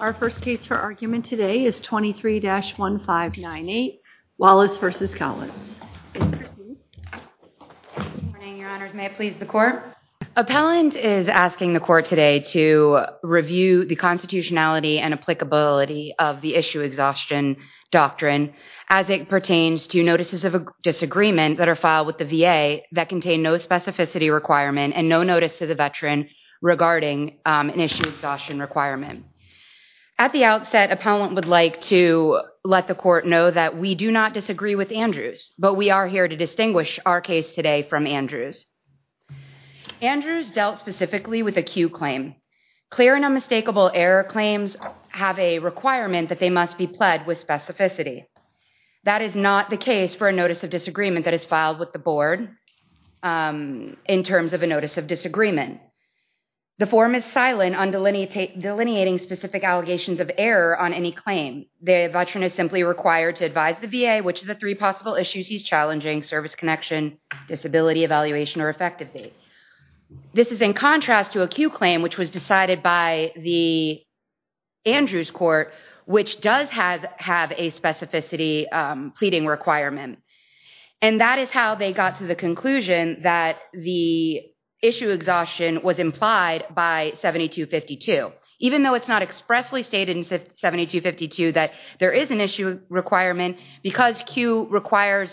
Our first case for argument today is 23-1598, Wallace v. Collins. Please proceed. Good morning, your honors. May it please the court? Appellant is asking the court today to review the constitutionality and applicability of the issue exhaustion doctrine as it pertains to notices of disagreement that are filed with the VA that contain no specificity requirement and no notice to the veteran regarding an issue exhaustion requirement. At the outset, appellant would like to let the court know that we do not disagree with Andrews but we are here to distinguish our case today from Andrews. Andrews dealt specifically with a Q claim. Clear and unmistakable error claims have a requirement that they must be pled with specificity. That is not the case for a notice of disagreement that is filed with the board in terms of a notice of disagreement. The form is silent on delineating specific allegations of error on any claim. The veteran is simply required to advise the VA which is the three possible issues he's challenging service connection, disability evaluation, or effective date. This is in contrast to a Q claim which was decided by the Andrews court which does have a specificity pleading requirement. That is how they got to the conclusion that the issue exhaustion was implied by 7252. Even though it's not expressly stated in 7252 that there is an issue requirement because Q requires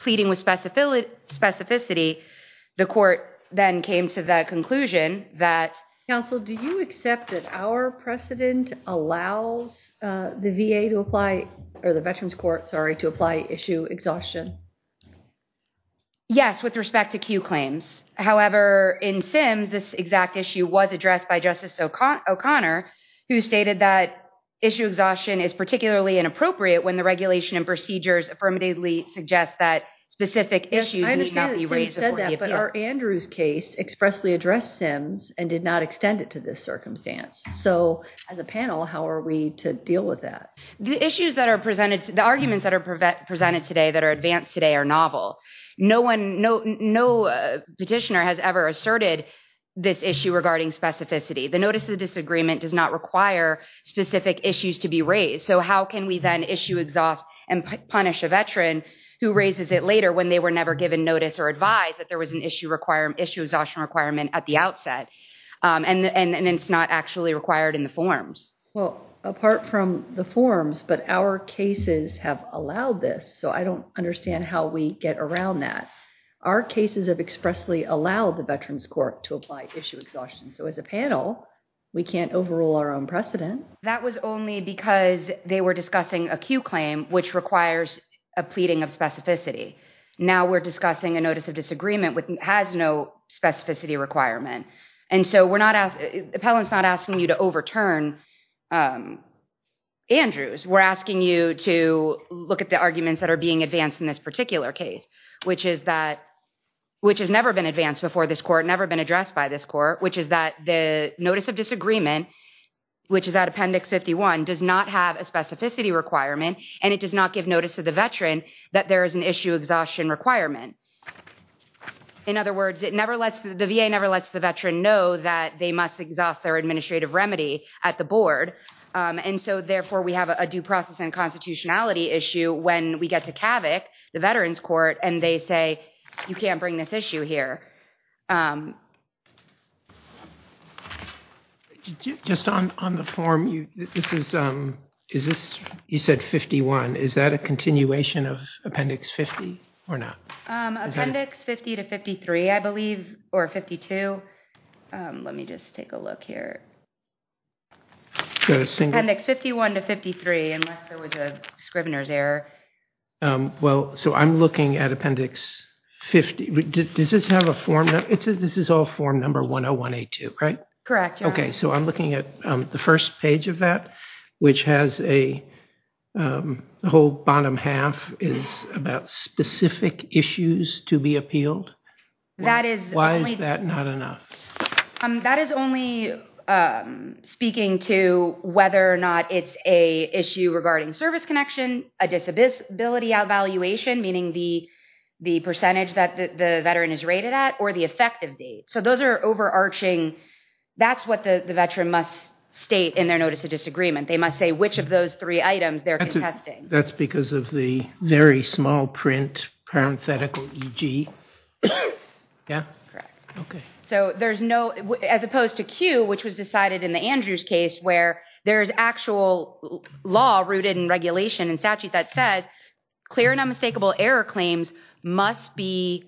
pleading with specificity, the court then came to the conclusion that, counsel, do you accept that our precedent allows the VA to apply, or the veterans court, sorry, to apply issue exhaustion? Yes, with respect to Q claims. However, in SIMS, this exact issue was addressed by Justice O'Connor who stated that issue exhaustion is particularly inappropriate when the regulation and procedures affirmatively suggest that specific issues need not be raised before the appeal. But our Andrews case expressly addressed SIMS and did not extend it to this circumstance. So as a panel, how are we to deal with that? The issues that are presented, the arguments that are presented today that are advanced today are novel. No petitioner has ever asserted this issue regarding specificity. The notice of disagreement does not require specific issues to be raised. So how can we then issue exhaust and punish a veteran who raises it later when they were never given notice or advised that there was an issue exhaustion requirement at the outset and it's not actually required in the forms? Well, apart from the forms, but our cases have allowed this. So I don't understand how we get around that. Our cases have expressly allowed the veterans court to apply issue exhaustion. So as a panel, we can't overrule our own precedent. That was only because they were discussing a Q claim which requires a pleading of specificity. Now we're discussing a notice of disagreement which has no specificity requirement. And so we're not, the appellant's not asking you to overturn Andrews. We're asking you to look at the arguments that are being advanced in this particular case, which is that, which has never been advanced before this court, never been addressed by this court, which is that the notice of disagreement, which is at appendix 51, does not have a specificity requirement and it does not give notice to the veteran that there is an issue exhaustion requirement. In other words, it never lets, the VA never lets the veteran know that they must exhaust their administrative remedy at the board. And so therefore we have a due process and constitutionality issue when we get to CAVIC, the veterans court, and they say, you can't bring this issue here. Just on the form, this is, is this, you said 51, is that a continuation of appendix 50 or not? Appendix 50 to 53, I believe, or 52. Let me just take a look here. Appendix 51 to 53, unless there was a Scrivener's error. Well, so I'm looking at appendix 50. Does this have a form? This is all form number 101A2, right? Correct. Okay. So I'm looking at the first page of that, which has a whole bottom half is about specific issues to be appealed. Why is that not enough? That is only speaking to whether or not it's a issue regarding service connection, a disability outvaluation, meaning the percentage that the veteran is rated at, or the effective date. So those are overarching. That's what the veteran must state in their notice of disagreement. They must say which of those three items they're contesting. That's because of the very small print, parenthetical EG. Yeah? Correct. Okay. So there's no, as opposed to Q, which was decided in the Andrews case where there's actual law rooted in regulation and statute that says clear and unmistakable error claims must be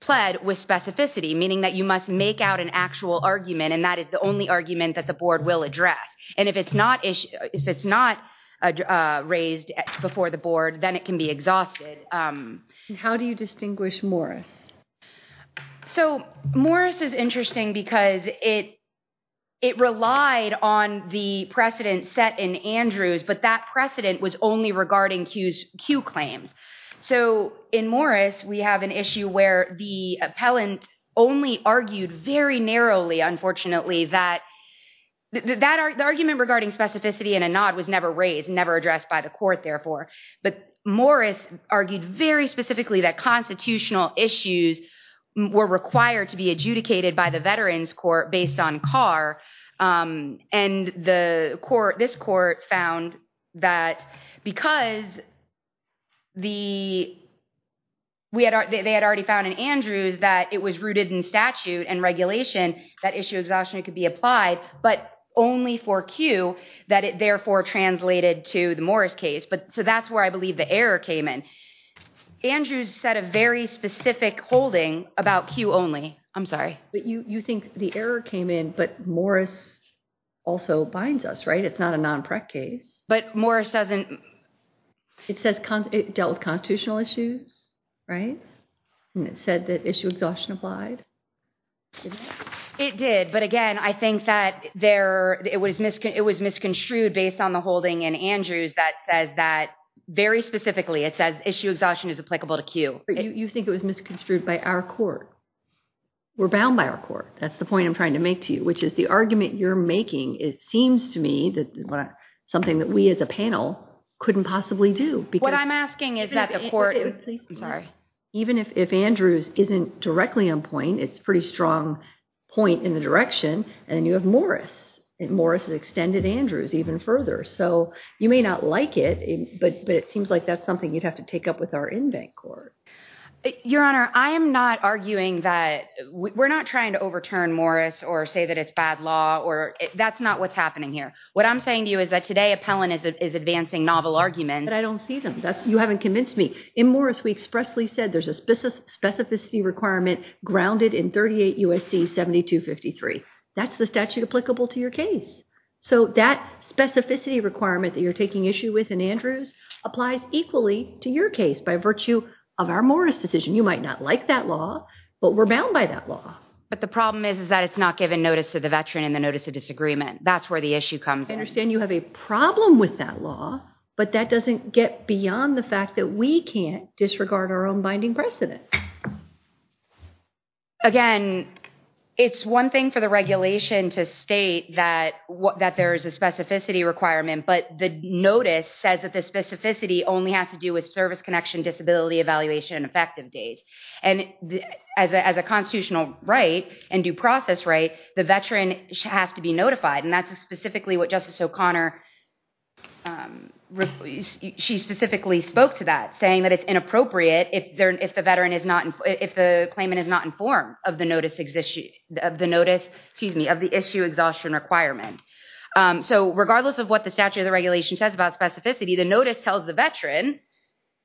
pled with specificity, meaning that you must make out an actual argument, and that is the only argument that the board will address. And if it's not raised before the board, then it can be exhausted. How do you distinguish Morris? So Morris is interesting because it relied on the precedent set in Andrews, but that precedent was only regarding Q claims. So in Morris, we have an issue where the appellant only argued very narrowly, unfortunately, that the argument regarding specificity and a nod was never raised, never addressed by the court, therefore. But Morris argued very specifically that constitutional issues were required to be adjudicated by the Veterans Court based on Carr, and this court found that because they had already found in Andrews that it was rooted in statute and regulation, that issue of exhaustion could be applied, but only for Q, that it therefore translated to the Morris case. So that's where I believe the error came in. Andrews set a very specific holding about Q only. I'm sorry. But you think the error came in, but Morris also binds us, right? It's not a non-PREC case. But Morris doesn't. It dealt with constitutional issues, right? And it said that issue of exhaustion applied. It did. But again, I think that it was misconstrued based on the holding in Andrews that says that very specifically, it says issue of exhaustion is applicable to Q. But you think it was misconstrued by our court. We're bound by our court. That's the point I'm trying to make to you, which is the argument you're making, it seems to me that something that we as a panel couldn't possibly do. What I'm asking is that the court… Even if Andrews isn't directly on point, it's a pretty strong point in the direction, and then you have Morris. Morris extended Andrews even further. So you may not like it, but it seems like that's something you'd have to take up with our in-bank court. Your Honor, I am not arguing that… We're not trying to overturn Morris or say that it's bad law. That's not what's happening here. What I'm saying to you is that today Appellant is advancing novel arguments. But I don't see them. You haven't convinced me. In Morris, we expressly said there's a specificity requirement grounded in 38 U.S.C. 7253. That's the statute applicable to your case. So that specificity requirement that you're taking issue with in Andrews applies equally to your case by virtue of our Morris decision. You might not like that law, but we're bound by that law. But the problem is that it's not given notice to the veteran in the notice of disagreement. That's where the issue comes in. I understand you have a problem with that law, but that doesn't get beyond the fact that we can't disregard our own binding precedent. Again, it's one thing for the regulation to state that there is a specificity requirement, but the notice says that the specificity only has to do with service connection, disability evaluation, and effective date. And as a constitutional right and due process right, the veteran has to be notified. And that's specifically what Justice O'Connor, she specifically spoke to that, saying that it's inappropriate if the claimant is not informed of the notice, excuse me, of the issue exhaustion requirement. So regardless of what the statute or the regulation says about specificity, the notice tells the veteran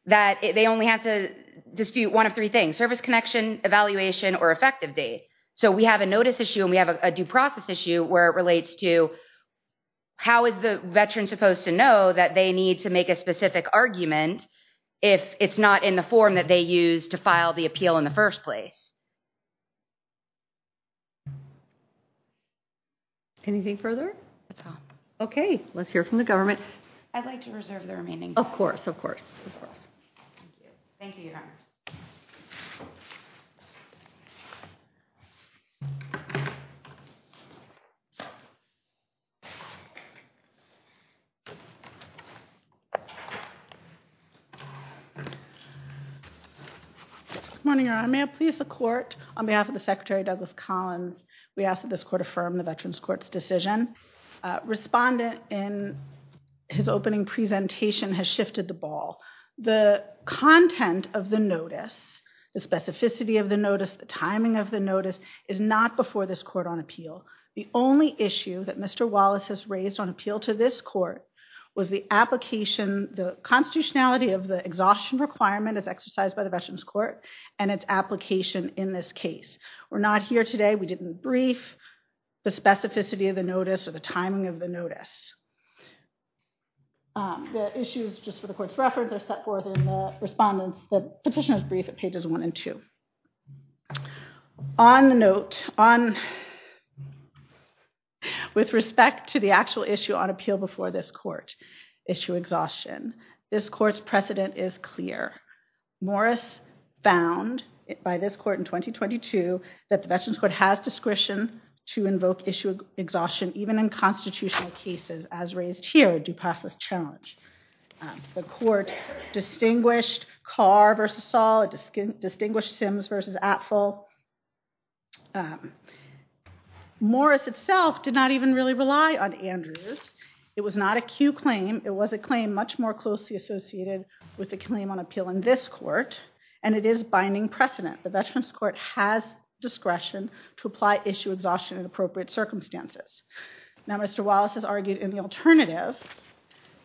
that they only have to dispute one of three things, service connection, evaluation, or effective date. So we have a notice issue and we have a due process issue where it relates to how is the veteran supposed to know that they need to make a specific argument if it's not in the form that they used to file the appeal in the first place. Anything further? That's all. Okay. Let's hear from the government. I'd like to reserve the remaining time. Of course. Of course. Thank you. Thank you. Good morning, Your Honor. May I please the court, on behalf of the Secretary Douglas Collins, we ask that this court affirm the Veterans Court's decision. Respondent, in his opening presentation, has shifted the ball. The content of the notice, the specificity of the notice, the timing of the notice, is not before this court on appeal. The only issue that Mr. Wallace has raised on appeal to this court was the application, the constitutionality of the exhaustion requirement as exercised by the Veterans Court and its application in this case. We're not here today. We didn't brief the specificity of the notice or the timing of the notice. The issues, just for the court's reference, are set forth in the respondent's petition brief at pages one and two. On the note, with respect to the actual issue on appeal before this court, issue exhaustion, this court's precedent is clear. Morris found, by this court in 2022, that the Veterans Court has discretion to invoke issue exhaustion, even in constitutional cases, as raised here, a due process challenge. The court distinguished Carr v. Saul, distinguished Sims v. Atfill. Morris itself did not even really rely on Andrews. It was not a Q claim. It was a claim much more closely associated with the claim on appeal in this court, and it is binding precedent. The Veterans Court has discretion to apply issue exhaustion in appropriate circumstances. Now, Mr. Wallace has argued in the alternative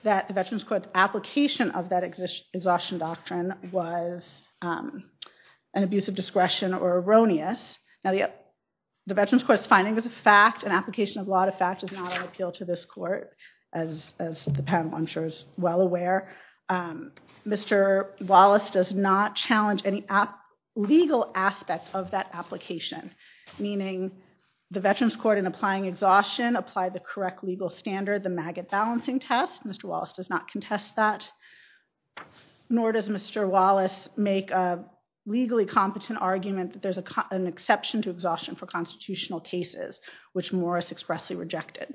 that the Veterans Court's application of that exhaustion doctrine was an abuse of discretion or erroneous. Now, the Veterans Court's finding was a fact. An application of law to fact is not on appeal to this court, as the panel, I'm sure, is well aware. Mr. Wallace does not challenge any legal aspects of that application, meaning the Veterans Court, in applying exhaustion, applied the correct legal standard, the maggot balancing test. Mr. Wallace does not contest that, nor does Mr. Wallace make a legally competent argument that there's an exception to exhaustion for constitutional cases, which Morris expressly rejected.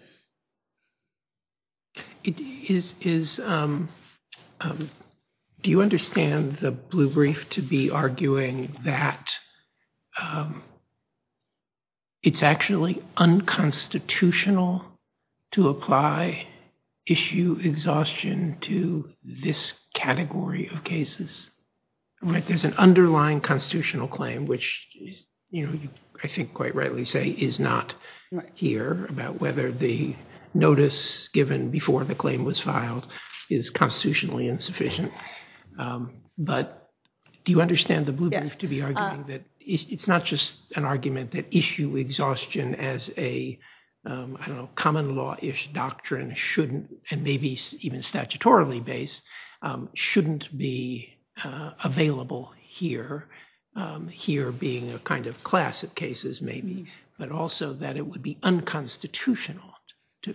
Do you understand the blue brief to be arguing that it's actually unconstitutional to apply issue exhaustion to this category of cases? There's an underlying constitutional claim, which I think quite rightly say is not here, about whether the notice given before the claim was filed is constitutionally insufficient. But do you understand the blue brief to be arguing that it's not just an argument that issue exhaustion as a, I don't know, common law-ish doctrine shouldn't, and maybe even statutorily based, shouldn't be available here, here being a kind of class of cases maybe, but also that it would be unconstitutional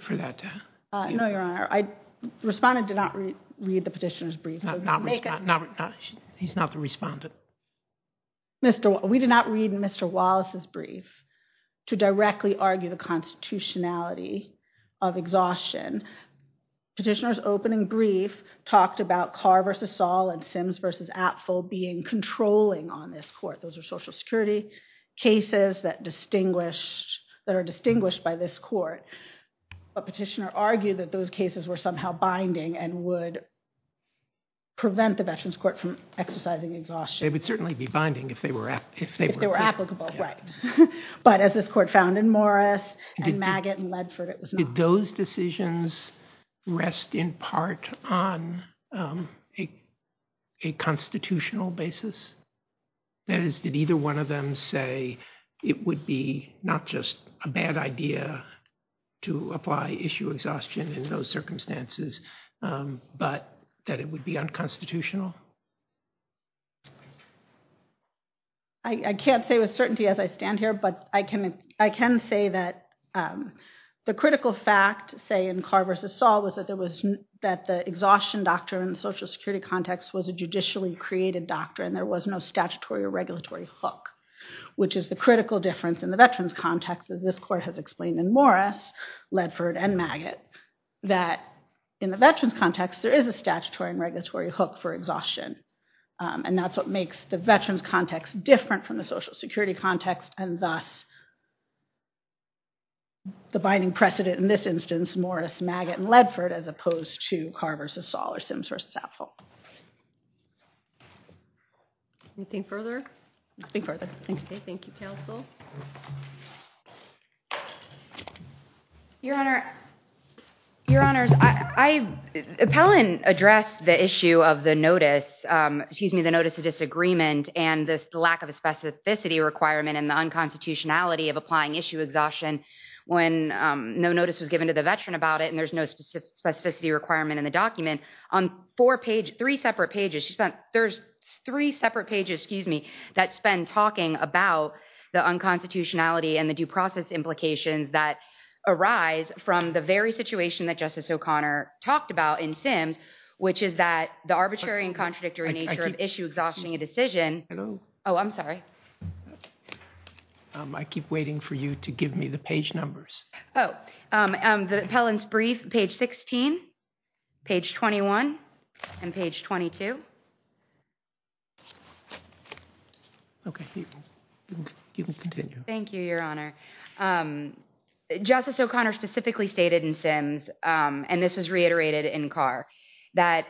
for that to happen? No, Your Honor. The respondent did not read the petitioner's brief. He's not the respondent. We did not read Mr. Wallace's brief to directly argue the constitutionality of exhaustion. Petitioner's opening brief talked about Carr v. Saul and Sims v. Atfill being controlling on this court. Those are Social Security cases that are distinguished by this court. But petitioner argued that those cases were somehow binding and would prevent the Veterans Court from exercising exhaustion. They would certainly be binding if they were applicable. If they were applicable, right. But as this court found in Morris and Maggott and Ledford, it was not. Would those decisions rest in part on a constitutional basis? That is, did either one of them say it would be not just a bad idea to apply issue exhaustion in those circumstances, but that it would be unconstitutional? I can't say with certainty as I stand here, but I can say that the critical fact, say in Carr v. Saul, was that the exhaustion doctrine in the Social Security context was a judicially created doctrine. There was no statutory or regulatory hook, which is the critical difference in the Veterans context, as this court has explained in Morris, Ledford, and Maggott, that in the Veterans context, there is a statutory and regulatory hook for exhaustion. And that's what makes the Veterans context different from the Social Security context, and thus the binding precedent in this instance, Morris, Maggott, and Ledford, as opposed to Carr v. Saul or Sims v. Sappho. Anything further? Nothing further. Thank you. Thank you, counsel. Your Honor, your Honors, Appellant addressed the issue of the notice of disagreement and the lack of a specificity requirement and the unconstitutionality of applying issue exhaustion when no notice was given to the Veteran about it, and there's no specificity requirement in the document. On three separate pages, there's three separate pages, excuse me, that spend talking about the unconstitutionality and the due process implications that arise from the very situation that Justice O'Connor talked about in Sims, which is that the arbitrary and contradictory nature of issue exhaustion in a decision. Oh, I'm sorry. I keep waiting for you to give me the page numbers. The Appellant's brief, page 16, page 21, and page 22. Okay. You can continue. Thank you, your Honor. Justice O'Connor specifically stated in Sims, and this was reiterated in Carr, that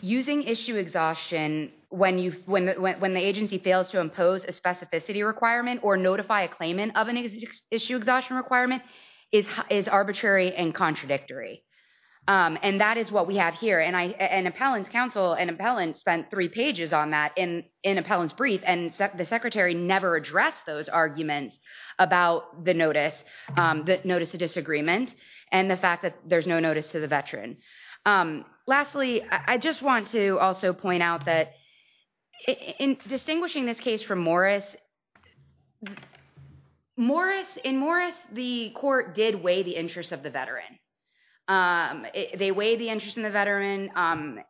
using issue exhaustion when the agency fails to impose a specificity requirement or notify a claimant of an issue exhaustion requirement is arbitrary and contradictory, and that is what we have here, and Appellant's counsel and Appellant spent three pages on that in Appellant's brief, and the Secretary never addressed those arguments about the notice, the notice of disagreement, and the fact that there's no notice to the Veteran. Lastly, I just want to also point out that in distinguishing this case from Morris, in Morris, the court did weigh the interest of the Veteran. They weighed the interest in the Veteran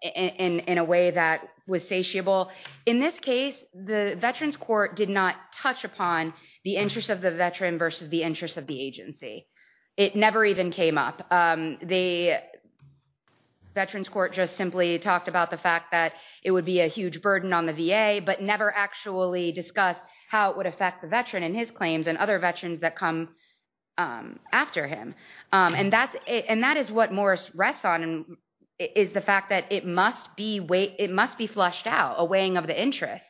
in a way that was satiable. In this case, the Veterans Court did not touch upon the interest of the Veteran versus the interest of the agency. It never even came up. The Veterans Court just simply talked about the fact that it would be a huge burden on the VA, but never actually discussed how it would affect the Veteran and his claims and other Veterans that come after him, and that is what Morris rests on, is the fact that it must be flushed out, a weighing of the interest,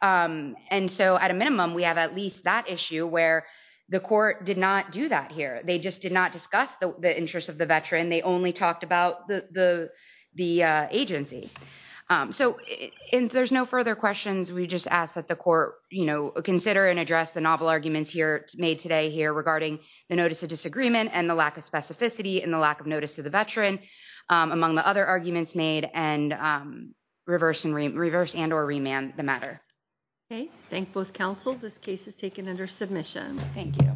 and so at a minimum, we have at least that issue where the court did not do that here. They just did not discuss the interest of the Veteran. They only talked about the agency. There's no further questions. We just ask that the court consider and address the novel arguments made today here regarding the notice of disagreement and the lack of specificity and the lack of notice to the Veteran, among the other arguments made, and reverse and or remand the matter. Okay. Thank both counsels. This case is taken under submission. Thank you.